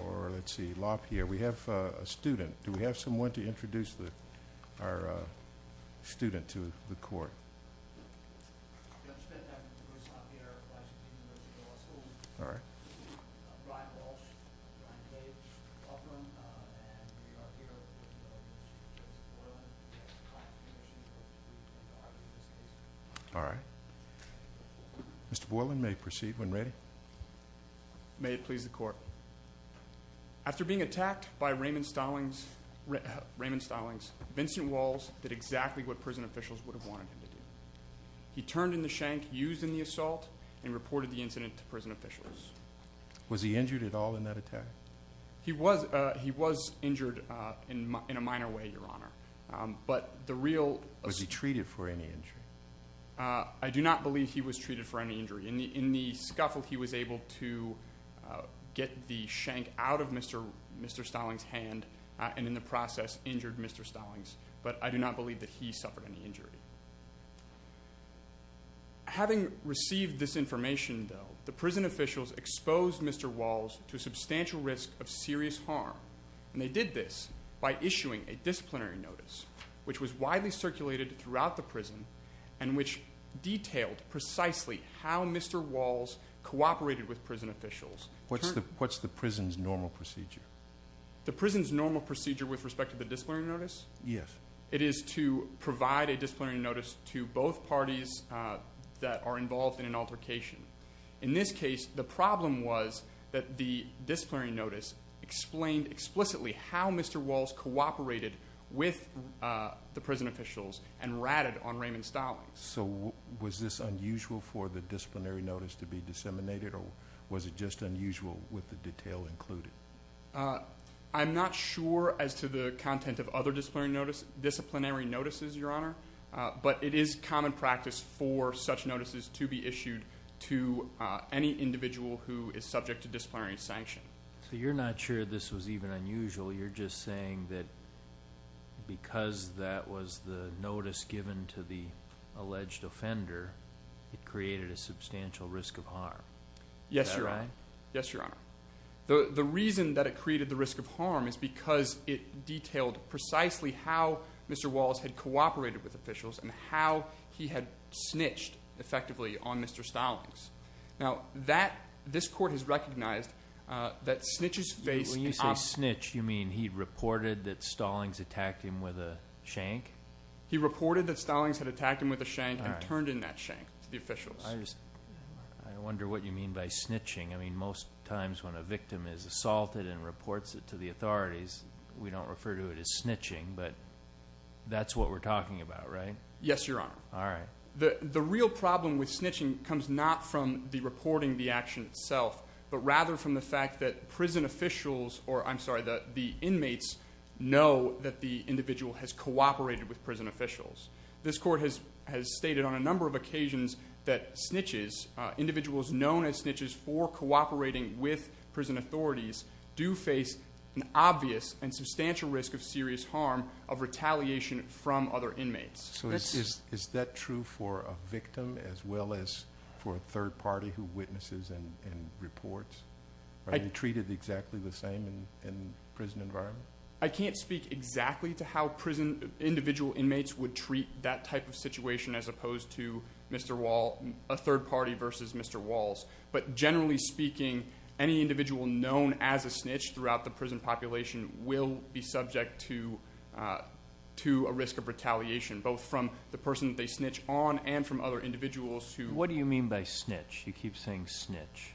Or, let's see, LaPierre. We have a student. Do we have someone to introduce our student to the court? I'm Bruce LaPierre, Vice Dean of the University Law School. Alright. I'm Brian Walsh. I'm Brian Tadman. And we are here with Mr. Joseph Boylan, the ex-client commissioner. We'd like to argue this case. Alright. Mr. Boylan, may I proceed when ready? May it please the court. After being attacked by Raymond Stallings, Vincent Walls did exactly what prison officials would have wanted him to do. He turned in the shank used in the assault and reported the incident to prison officials. Was he injured at all in that attack? He was injured in a minor way, Your Honor. Was he treated for any injury? I do not believe he was treated for any injury. In the scuffle, he was able to get the shank out of Mr. Stallings' hand and, in the process, injured Mr. Stallings. But I do not believe that he suffered any injury. Having received this information, though, the prison officials exposed Mr. Walls to substantial risk of serious harm. And they did this by issuing a disciplinary notice, which was widely circulated throughout the prison and which detailed precisely how Mr. Walls cooperated with prison officials. What's the prison's normal procedure? The prison's normal procedure with respect to the disciplinary notice? Yes. It is to provide a disciplinary notice to both parties that are involved in an altercation. In this case, the problem was that the disciplinary notice explained explicitly how Mr. Walls cooperated with the prison officials and ratted on Raymond Stallings. So was this unusual for the disciplinary notice to be disseminated, or was it just unusual with the detail included? I'm not sure as to the content of other disciplinary notices, Your Honor, but it is common practice for such notices to be issued to any individual who is subject to disciplinary sanction. So you're not sure this was even unusual. You're just saying that because that was the notice given to the alleged offender, it created a substantial risk of harm. Yes, Your Honor. Is that right? Yes, Your Honor. The reason that it created the risk of harm is because it detailed precisely how Mr. Walls had cooperated with officials and how he had snitched effectively on Mr. Stallings. Now, this Court has recognized that snitches face an obstacle. When you say snitch, you mean he reported that Stallings attacked him with a shank? He reported that Stallings had attacked him with a shank and turned in that shank to the officials. I wonder what you mean by snitching. I mean, most times when a victim is assaulted and reports it to the authorities, we don't refer to it as snitching, but that's what we're talking about, right? Yes, Your Honor. All right. The real problem with snitching comes not from the reporting of the action itself, but rather from the fact that the inmates know that the individual has cooperated with prison officials. This Court has stated on a number of occasions that snitches, individuals known as snitches for cooperating with prison authorities, do face an obvious and substantial risk of serious harm of retaliation from other inmates. So is that true for a victim as well as for a third party who witnesses and reports? Are they treated exactly the same in the prison environment? I can't speak exactly to how prison individual inmates would treat that type of situation as opposed to a third party versus Mr. Walls, but generally speaking any individual known as a snitch throughout the prison population will be subject to a risk of retaliation both from the person they snitch on and from other individuals who What do you mean by snitch? You keep saying snitch.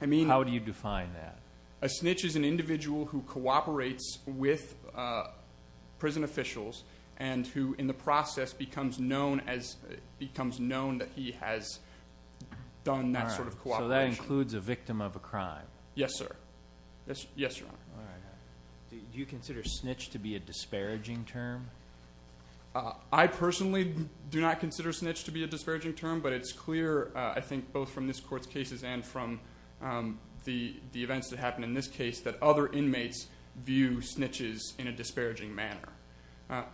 I mean How do you define that? A snitch is an individual who cooperates with prison officials and who in the process becomes known that he has done that sort of cooperation. So that includes a victim of a crime? Yes, sir. Yes, Your Honor. Do you consider snitch to be a disparaging term? I personally do not consider snitch to be a disparaging term, but it's clear I think both from this court's cases and from the events that happened in this case that other inmates view snitches in a disparaging manner.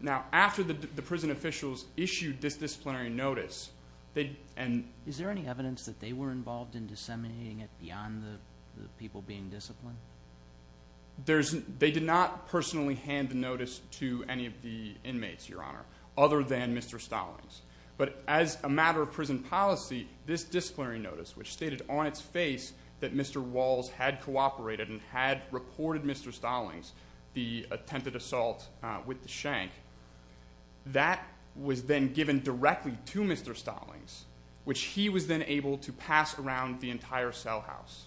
Now after the prison officials issued this disciplinary notice, Is there any evidence that they were involved in disseminating it beyond the people being disciplined? They did not personally hand the notice to any of the inmates, Your Honor, other than Mr. Stallings. But as a matter of prison policy, this disciplinary notice, which stated on its face that Mr. Walls had cooperated and had reported Mr. Stallings the attempted assault with the shank, that was then given directly to Mr. Stallings, which he was then able to pass around the entire cell house.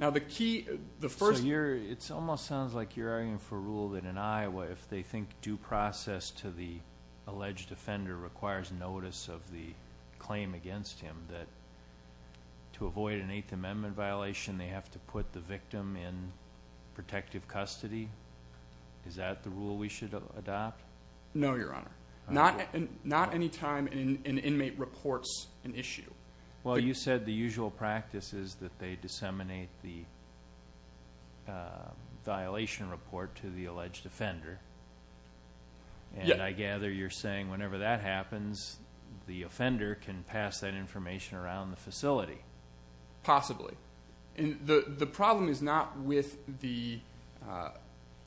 So it almost sounds like you're arguing for rule that in Iowa, if they think due process to the alleged offender requires notice of the claim against him, that to avoid an Eighth Amendment violation, they have to put the victim in protective custody? Is that the rule we should adopt? No, Your Honor. Well, you said the usual practice is that they disseminate the violation report to the alleged offender. And I gather you're saying whenever that happens, the offender can pass that information around the facility. Possibly. The problem is not with the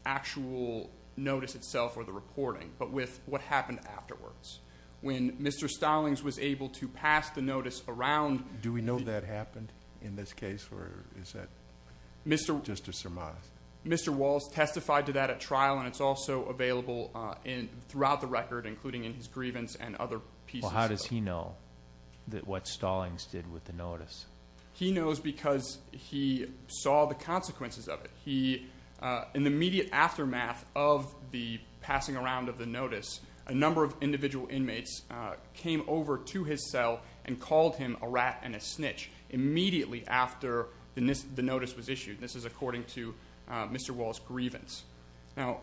actual notice itself or the reporting, but with what happened afterwards. When Mr. Stallings was able to pass the notice around. Do we know that happened in this case, or is that just a surmise? Mr. Walls testified to that at trial, and it's also available throughout the record, including in his grievance and other pieces. Well, how does he know what Stallings did with the notice? He knows because he saw the consequences of it. In the immediate aftermath of the passing around of the notice, a number of individual inmates came over to his cell and called him a rat and a snitch, immediately after the notice was issued. This is according to Mr. Walls' grievance. Now,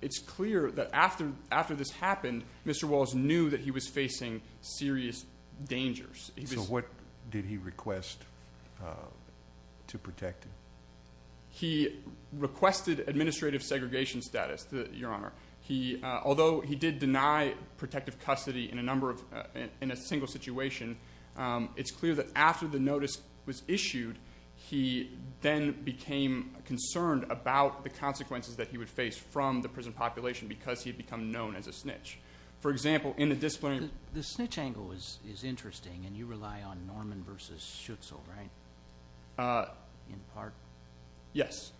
it's clear that after this happened, Mr. Walls knew that he was facing serious dangers. So what did he request to protect him? He requested administrative segregation status, Your Honor. Although he did deny protective custody in a single situation, it's clear that after the notice was issued, he then became concerned about the consequences that he would face from the prison population because he had become known as a snitch. For example, in a disciplinary court. The snitch angle is interesting, and you rely on Norman v. Schutzel, right? In part? Yes.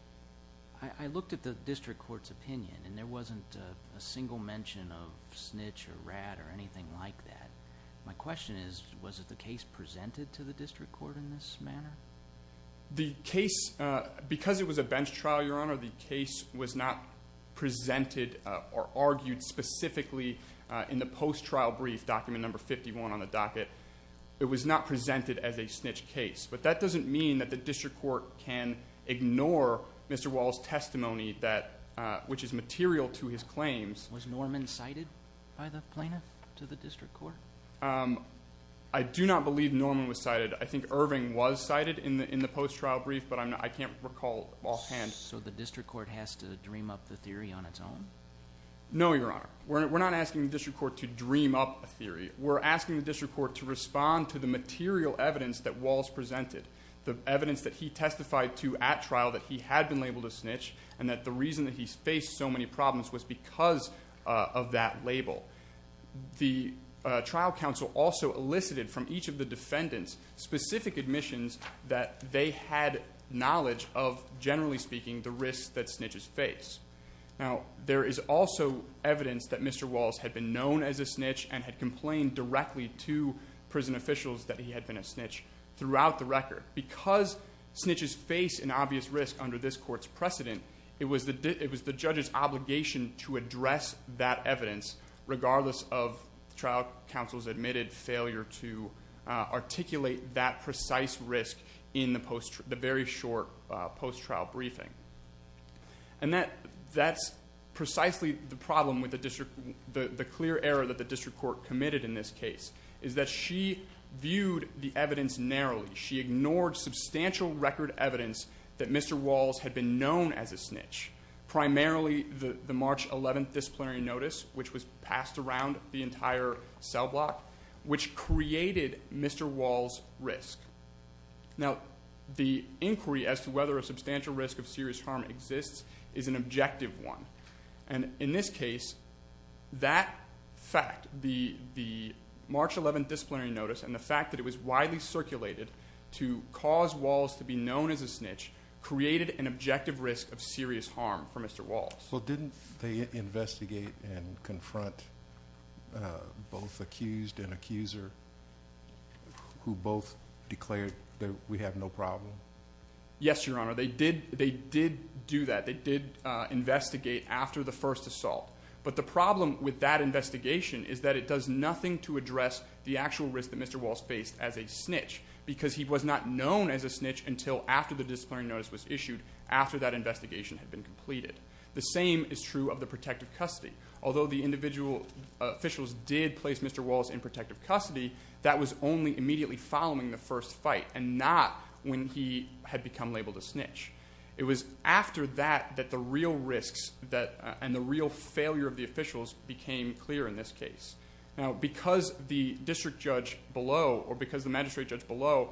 I looked at the district court's opinion, and there wasn't a single mention of snitch or rat or anything like that. My question is, was the case presented to the district court in this manner? The case, because it was a bench trial, Your Honor, the case was not presented or argued specifically in the post-trial brief, document number 51 on the docket. It was not presented as a snitch case. But that doesn't mean that the district court can ignore Mr. Wall's testimony, which is material to his claims. Was Norman cited by the plaintiff to the district court? I do not believe Norman was cited. I think Irving was cited in the post-trial brief, but I can't recall offhand. So the district court has to dream up the theory on its own? No, Your Honor. We're not asking the district court to dream up a theory. We're asking the district court to respond to the material evidence that Walls presented, the evidence that he testified to at trial that he had been labeled a snitch and that the reason that he faced so many problems was because of that label. The trial counsel also elicited from each of the defendants specific admissions that they had knowledge of, generally speaking, the risks that snitches face. Now, there is also evidence that Mr. Walls had been known as a snitch and had complained directly to prison officials that he had been a snitch throughout the record. Because snitches face an obvious risk under this court's precedent, it was the judge's obligation to address that evidence, regardless of the trial counsel's admitted failure to articulate that precise risk in the very short post-trial briefing. And that's precisely the problem with the clear error that the district court committed in this case is that she viewed the evidence narrowly. She ignored substantial record evidence that Mr. Walls had been known as a snitch, primarily the March 11th disciplinary notice, which was passed around the entire cell block, which created Mr. Walls' risk. Now, the inquiry as to whether a substantial risk of serious harm exists is an objective one. And in this case, that fact, the March 11th disciplinary notice and the fact that it was widely circulated to cause Walls to be known as a snitch created an objective risk of serious harm for Mr. Walls. Well, didn't they investigate and confront both accused and accuser who both declared that we have no problem? Yes, Your Honor, they did do that. They did investigate after the first assault. But the problem with that investigation is that it does nothing to address the actual risk that Mr. Walls faced as a snitch because he was not known as a snitch until after the disciplinary notice was issued, after that investigation had been completed. The same is true of the protective custody. Although the individual officials did place Mr. Walls in protective custody, that was only immediately following the first fight and not when he had become labeled a snitch. It was after that that the real risks and the real failure of the officials became clear in this case. Now, because the district judge below or because the magistrate judge below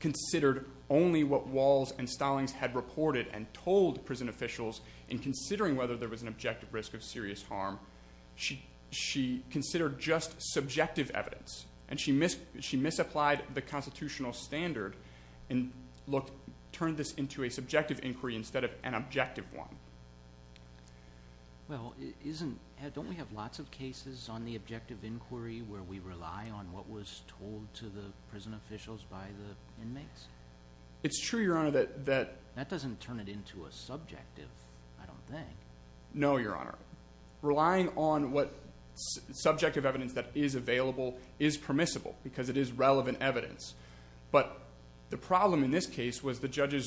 considered only what Walls and Stallings had reported and told prison officials in considering whether there was an objective risk of serious harm, she considered just subjective evidence, and she misapplied the constitutional standard and turned this into a subjective inquiry instead of an objective one. Well, don't we have lots of cases on the objective inquiry where we rely on what was told to the prison officials by the inmates? It's true, Your Honor. That doesn't turn it into a subjective, I don't think. No, Your Honor. Relying on what subjective evidence that is available is permissible because it is relevant evidence. But the problem in this case was the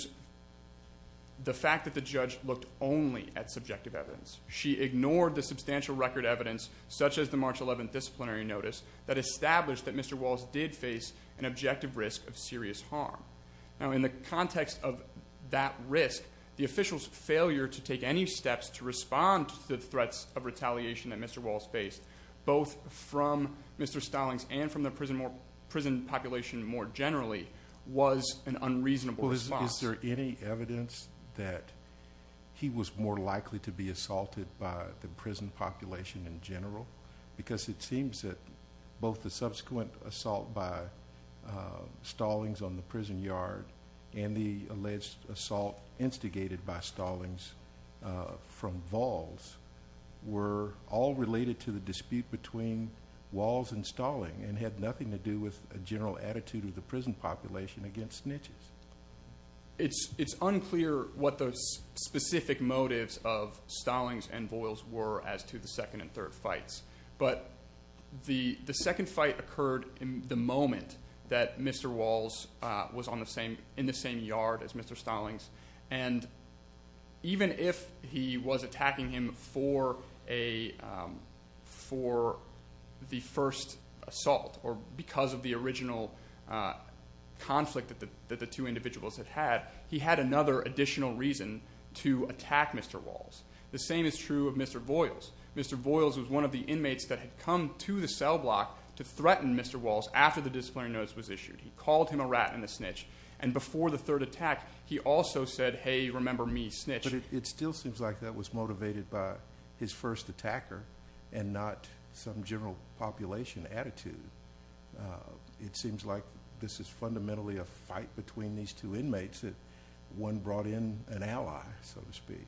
fact that the judge looked only at subjective evidence. She ignored the substantial record evidence, such as the March 11th disciplinary notice, that established that Mr. Walls did face an objective risk of serious harm. Now, in the context of that risk, the officials' failure to take any steps to respond to the threats of retaliation that Mr. Walls faced, both from Mr. Stallings and from the prison population more generally, was an unreasonable response. Well, is there any evidence that he was more likely to be assaulted by the prison population in general? Because it seems that both the subsequent assault by Stallings on the prison yard and the alleged assault instigated by Stallings from Walls were all related to the dispute between Walls and Stallings and had nothing to do with a general attitude of the prison population against snitches. It's unclear what the specific motives of Stallings and Voiles were as to the second and third fights. But the second fight occurred in the moment that Mr. Walls was in the same yard as Mr. Stallings. And even if he was attacking him for the first assault or because of the original conflict that the two individuals had had, he had another additional reason to attack Mr. Walls. The same is true of Mr. Voiles. Mr. Voiles was one of the inmates that had come to the cell block to threaten Mr. Walls after the disciplinary notice was issued. He called him a rat and a snitch. And before the third attack, he also said, hey, remember me, snitch. But it still seems like that was motivated by his first attacker and not some general population attitude. It seems like this is fundamentally a fight between these two inmates that one brought in an ally, so to speak,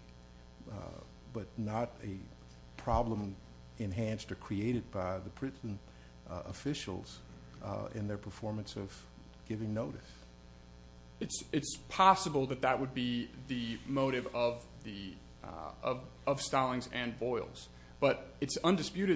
but not a problem enhanced or created by the prison officials in their performance of giving notice. It's possible that that would be the motive of Stallings and Voiles. But it's our contention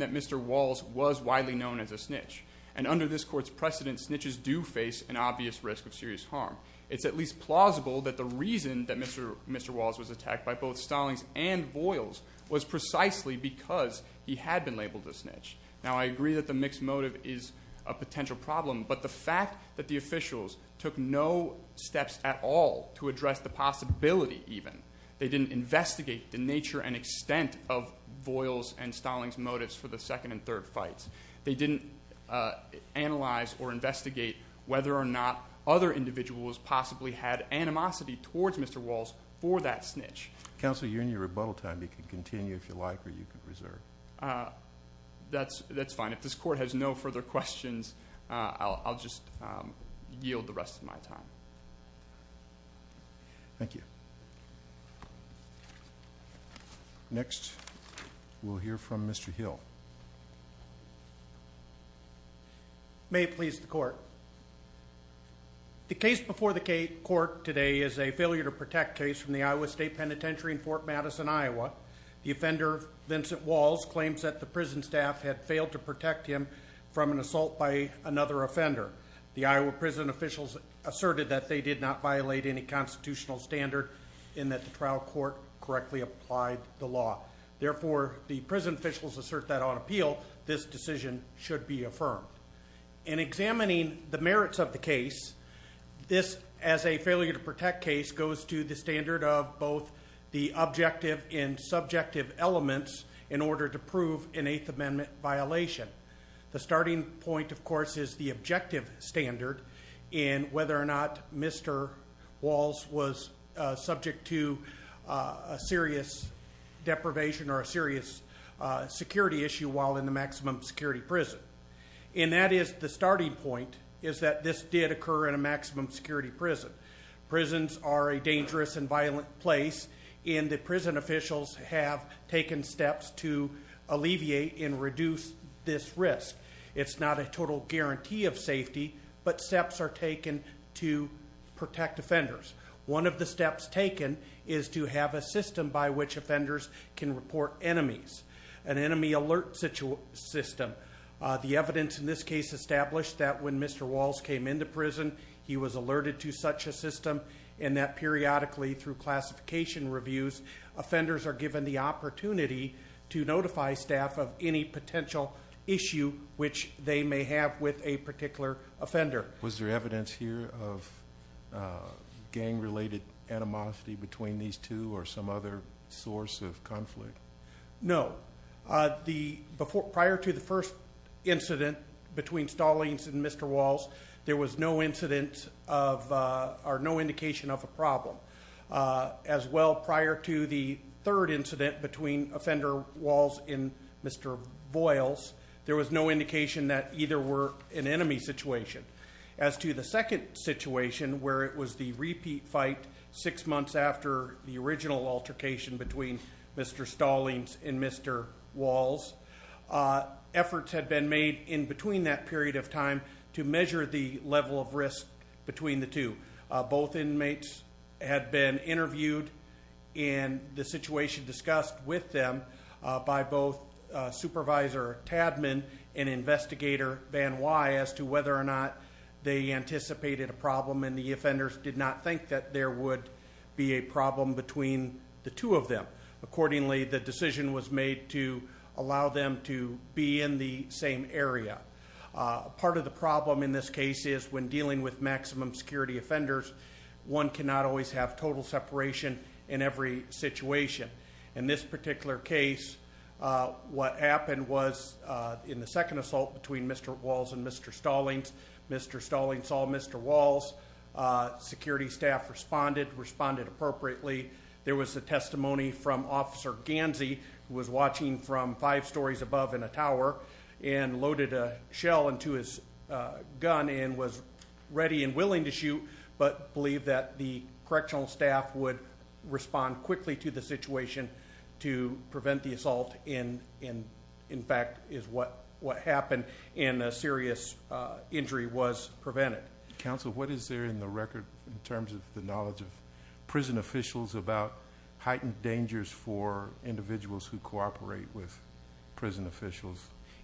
that Mr. Walls was widely known as a snitch. And under this court's precedent, snitches do face an obvious risk of serious harm. It's at least plausible that the reason that Mr. Walls was attacked by both Stallings and Voiles was precisely because he had been labeled a snitch. Now, I agree that the mixed motive is a potential problem, but the fact that the officials took no steps at all to address the possibility even. They didn't investigate the nature and extent of Voiles' and Stallings' motives for the second and third fights. They didn't analyze or investigate whether or not other individuals possibly had animosity towards Mr. Walls for that snitch. Counsel, you're in your rebuttal time. You can continue if you like or you can reserve. That's fine. If this court has no further questions, I'll just yield the rest of my time. Thank you. Next, we'll hear from Mr. Hill. May it please the court. The case before the court today is a failure to protect case from the Iowa State Penitentiary in Fort Madison, Iowa. The offender, Vincent Walls, claims that the prison staff had failed to protect him from an assault by another offender. The Iowa prison officials asserted that they did not violate any constitutional standard and that the trial court correctly applied the law. Therefore, the prison officials assert that on appeal, this decision should be affirmed. In examining the merits of the case, this, as a failure to protect case, goes to the standard of both the objective and subjective elements in order to prove an Eighth Amendment violation. The starting point, of course, is the objective standard in whether or not Mr. Walls was subject to a serious deprivation or a serious security issue while in the maximum security prison. And that is the starting point is that this did occur in a maximum security prison. Prisons are a dangerous and violent place, and the prison officials have taken steps to alleviate and reduce this risk. It's not a total guarantee of safety, but steps are taken to protect offenders. One of the steps taken is to have a system by which offenders can report enemies, an enemy alert system. The evidence in this case established that when Mr. Walls came into prison, he was alerted to such a system. And that periodically through classification reviews, offenders are given the opportunity to notify staff of any potential issue which they may have with a particular offender. Was there evidence here of gang-related animosity between these two or some other source of conflict? No. Prior to the first incident between Stallings and Mr. Walls, there was no indication of a problem. As well, prior to the third incident between offender Walls and Mr. Boyles, there was no indication that either were an enemy situation. As to the second situation, where it was the repeat fight six months after the original altercation between Mr. Stallings and Mr. Walls, efforts had been made in between that period of time to measure the level of risk between the two. Both inmates had been interviewed and the situation discussed with them by both Supervisor Tadman and Investigator Van Wye as to whether or not they anticipated a problem and the offenders did not think that there would be a problem between the two of them. Accordingly, the decision was made to allow them to be in the same area. Part of the problem in this case is when dealing with maximum security offenders, one cannot always have total separation in every situation. In this particular case, what happened was in the second assault between Mr. Walls and Mr. Stallings, Mr. Stallings saw Mr. Walls. Security staff responded, responded appropriately. There was a testimony from Officer Gansey who was watching from five stories above in a tower and loaded a shell into his gun and was ready and willing to shoot but believed that the correctional staff would respond quickly to the situation to prevent the assault and in fact is what happened and a serious injury was prevented. Counsel, what is there in the record in terms of the knowledge of prison officials about heightened dangers for individuals who cooperate with prison officials?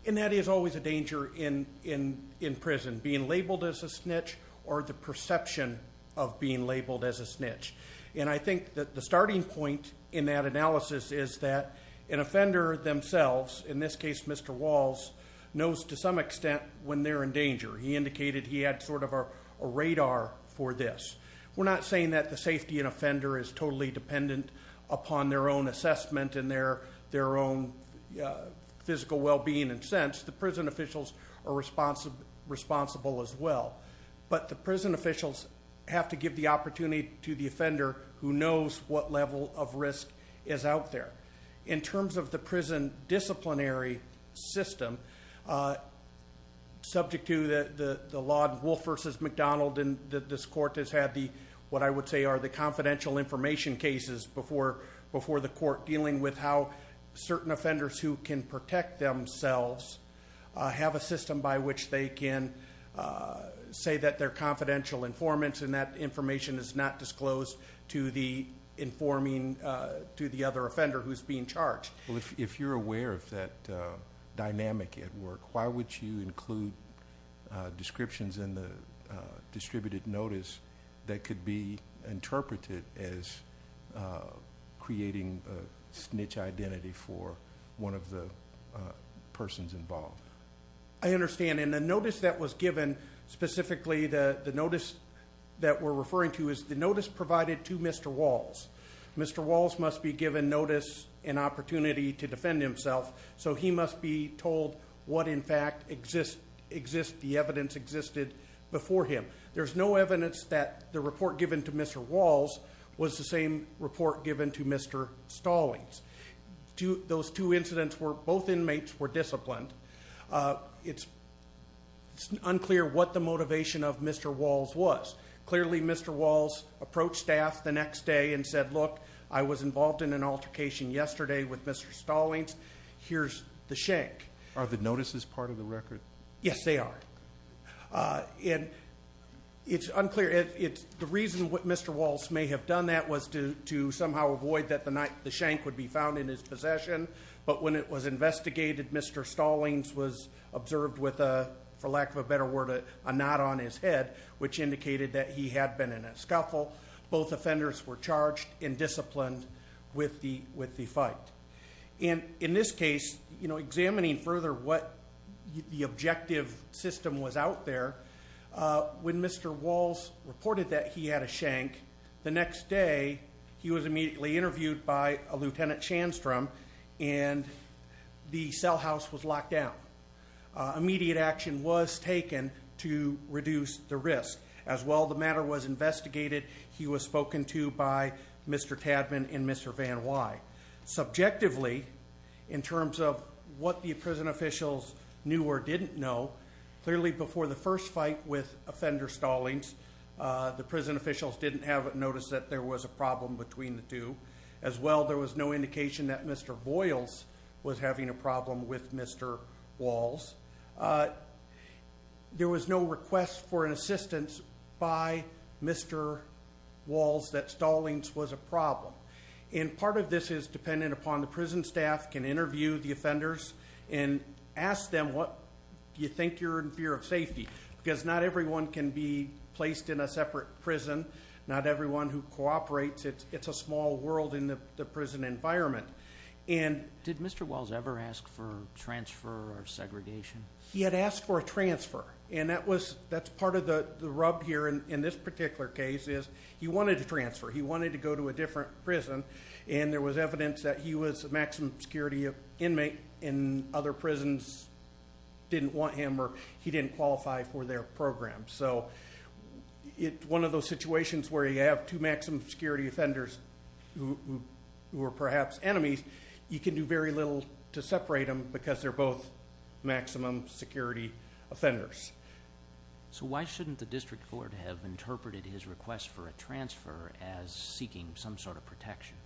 And that is always a danger in prison, being labeled as a snitch or the perception of being labeled as a snitch. And I think that the starting point in that analysis is that an offender themselves, in this case Mr. Walls, knows to some extent when they're in danger. He indicated he had sort of a radar for this. We're not saying that the safety of an offender is totally dependent upon their own assessment and their own physical well-being and sense. The prison officials are responsible as well. But the prison officials have to give the opportunity to the offender who knows what level of risk is out there. In terms of the prison disciplinary system, subject to the law, Wolf v. McDonald, this court has had what I would say are the confidential information cases before the court dealing with how certain offenders who can protect themselves have a system by which they can say that they're confidential informants and that information is not disclosed to the other offender who's being charged. Well, if you're aware of that dynamic at work, why would you include descriptions in the distributed notice that could be interpreted as creating a snitch identity for one of the persons involved? I understand, and the notice that was given, specifically the notice that we're referring to, is the notice provided to Mr. Walls. Mr. Walls must be given notice and opportunity to defend himself, so he must be told what in fact exists, the evidence existed before him. There's no evidence that the report given to Mr. Walls was the same report given to Mr. Stallings. Those two incidents were, both inmates were disciplined. It's unclear what the motivation of Mr. Walls was. Clearly, Mr. Walls approached staff the next day and said, look, I was involved in an altercation yesterday with Mr. Stallings, here's the shank. Are the notices part of the record? Yes, they are. It's unclear. The reason Mr. Walls may have done that was to somehow avoid that the shank would be found in his possession, but when it was investigated, Mr. Stallings was observed with, for lack of a better word, a knot on his head, which indicated that he had been in a scuffle. Both offenders were charged and disciplined with the fight. In this case, examining further what the objective system was out there, when Mr. Walls reported that he had a shank, the next day he was immediately interviewed by a Lieutenant Shandstrom and the cell house was locked down. Immediate action was taken to reduce the risk. As well, the matter was investigated. He was spoken to by Mr. Tadman and Mr. Van Wy. Subjectively, in terms of what the prison officials knew or didn't know, clearly before the first fight with offender Stallings, the prison officials didn't have a notice that there was a problem between the two. As well, there was no indication that Mr. Boyles was having a problem with Mr. Walls. There was no request for an assistance by Mr. Walls that Stallings was a problem. And part of this is dependent upon the prison staff can interview the offenders and ask them what you think you're in fear of safety, because not everyone can be placed in a separate prison, not everyone who cooperates. It's a small world in the prison environment. Did Mr. Walls ever ask for transfer or segregation? He had asked for a transfer, and that's part of the rub here in this particular case is he wanted to transfer. He wanted to go to a different prison, and there was evidence that he was a maximum security inmate and other prisons didn't want him or he didn't qualify for their program. So one of those situations where you have two maximum security offenders who are perhaps enemies, you can do very little to separate them because they're both maximum security offenders. So why shouldn't the district court have interpreted his request for a transfer as seeking some sort of protection?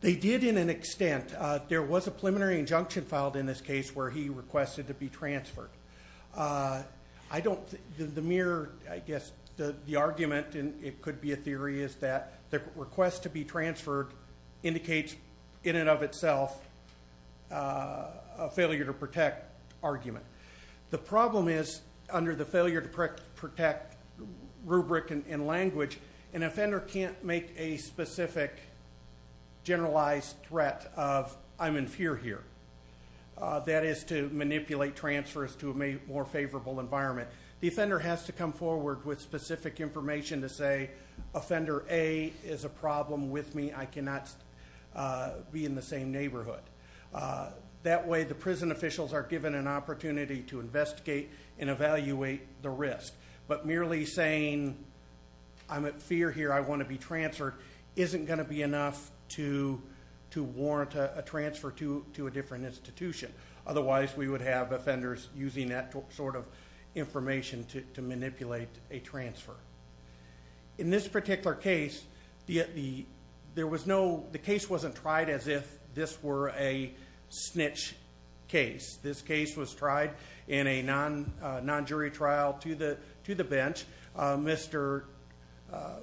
They did in an extent. There was a preliminary injunction filed in this case where he requested to be transferred. I don't think the mere, I guess, the argument, and it could be a theory, is that the request to be transferred indicates in and of itself a failure to protect argument. The problem is under the failure to protect rubric and language, an offender can't make a specific generalized threat of I'm in fear here. That is to manipulate transfers to a more favorable environment. The offender has to come forward with specific information to say, Offender A is a problem with me. I cannot be in the same neighborhood. That way the prison officials are given an opportunity to investigate and evaluate the risk. But merely saying I'm in fear here, I want to be transferred, isn't going to be enough to warrant a transfer to a different institution. Otherwise, we would have offenders using that sort of information to manipulate a transfer. In this particular case, the case wasn't tried as if this were a snitch case. This case was tried in a non-jury trial to the bench. Mr.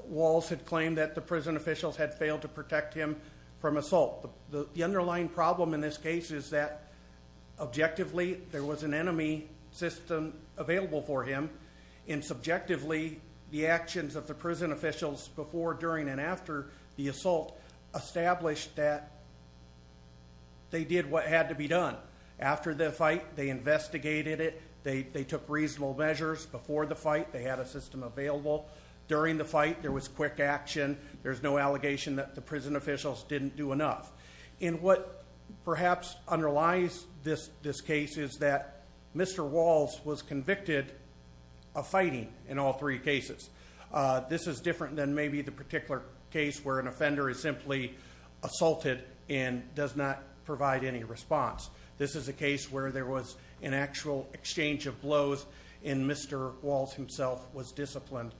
Walls had claimed that the prison officials had failed to protect him from assault. The underlying problem in this case is that objectively there was an enemy system available for him, and subjectively the actions of the prison officials before, during, and after the assault established that they did what had to be done. After the fight, they investigated it. They took reasonable measures. Before the fight, they had a system available. During the fight, there was quick action. There's no allegation that the prison officials didn't do enough. And what perhaps underlies this case is that Mr. Walls was convicted of fighting in all three cases. This is different than maybe the particular case where an offender is simply assaulted and does not provide any response. This is a case where there was an actual exchange of blows, and Mr. Walls himself was disciplined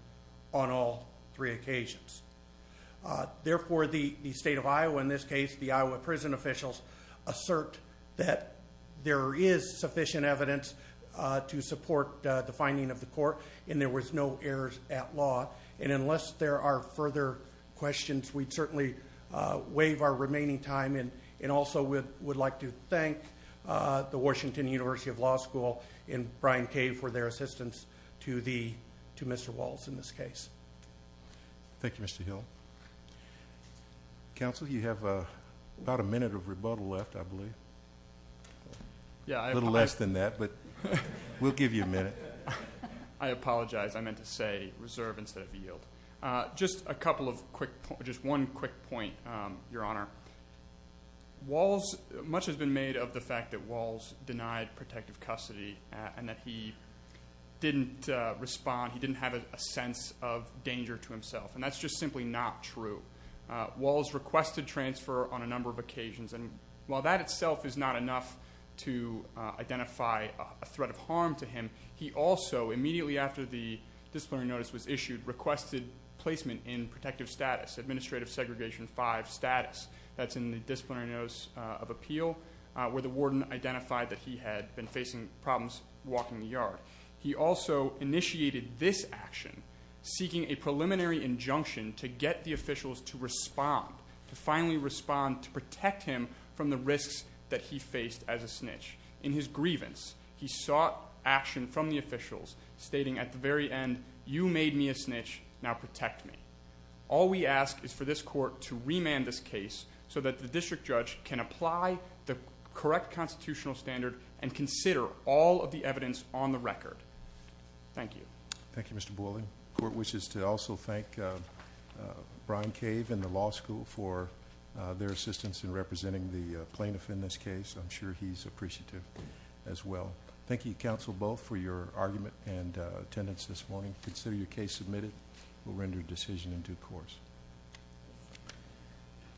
on all three occasions. Therefore, the state of Iowa, in this case the Iowa prison officials, assert that there is sufficient evidence to support the finding of the court, and there was no errors at law. And unless there are further questions, we'd certainly waive our remaining time, and also would like to thank the Washington University of Law School and Brian K. for their assistance to Mr. Walls in this case. Thank you, Mr. Hill. Counsel, you have about a minute of rebuttal left, I believe. A little less than that, but we'll give you a minute. I apologize. I meant to say reserve instead of yield. Just one quick point, Your Honor. Much has been made of the fact that Walls denied protective custody and that he didn't respond, he didn't have a sense of danger to himself, and that's just simply not true. Walls requested transfer on a number of occasions, and while that itself is not enough to identify a threat of harm to him, he also, immediately after the disciplinary notice was issued, requested placement in protective status, administrative segregation 5 status. That's in the disciplinary notice of appeal, where the warden identified that he had been facing problems walking the yard. He also initiated this action, seeking a preliminary injunction to get the officials to respond, to finally respond to protect him from the risks that he faced as a snitch. In his grievance, he sought action from the officials, stating at the very end, you made me a snitch, now protect me. All we ask is for this court to remand this case so that the district judge can apply the correct constitutional standard and consider all of the evidence on the record. Thank you. Thank you, Mr. Boylan. The court wishes to also thank Brian Cave and the law school for their assistance in representing the plaintiff in this case. I'm sure he's appreciative as well. Thank you, counsel, both, for your argument and attendance this morning. Consider your case submitted. We'll render a decision in due course.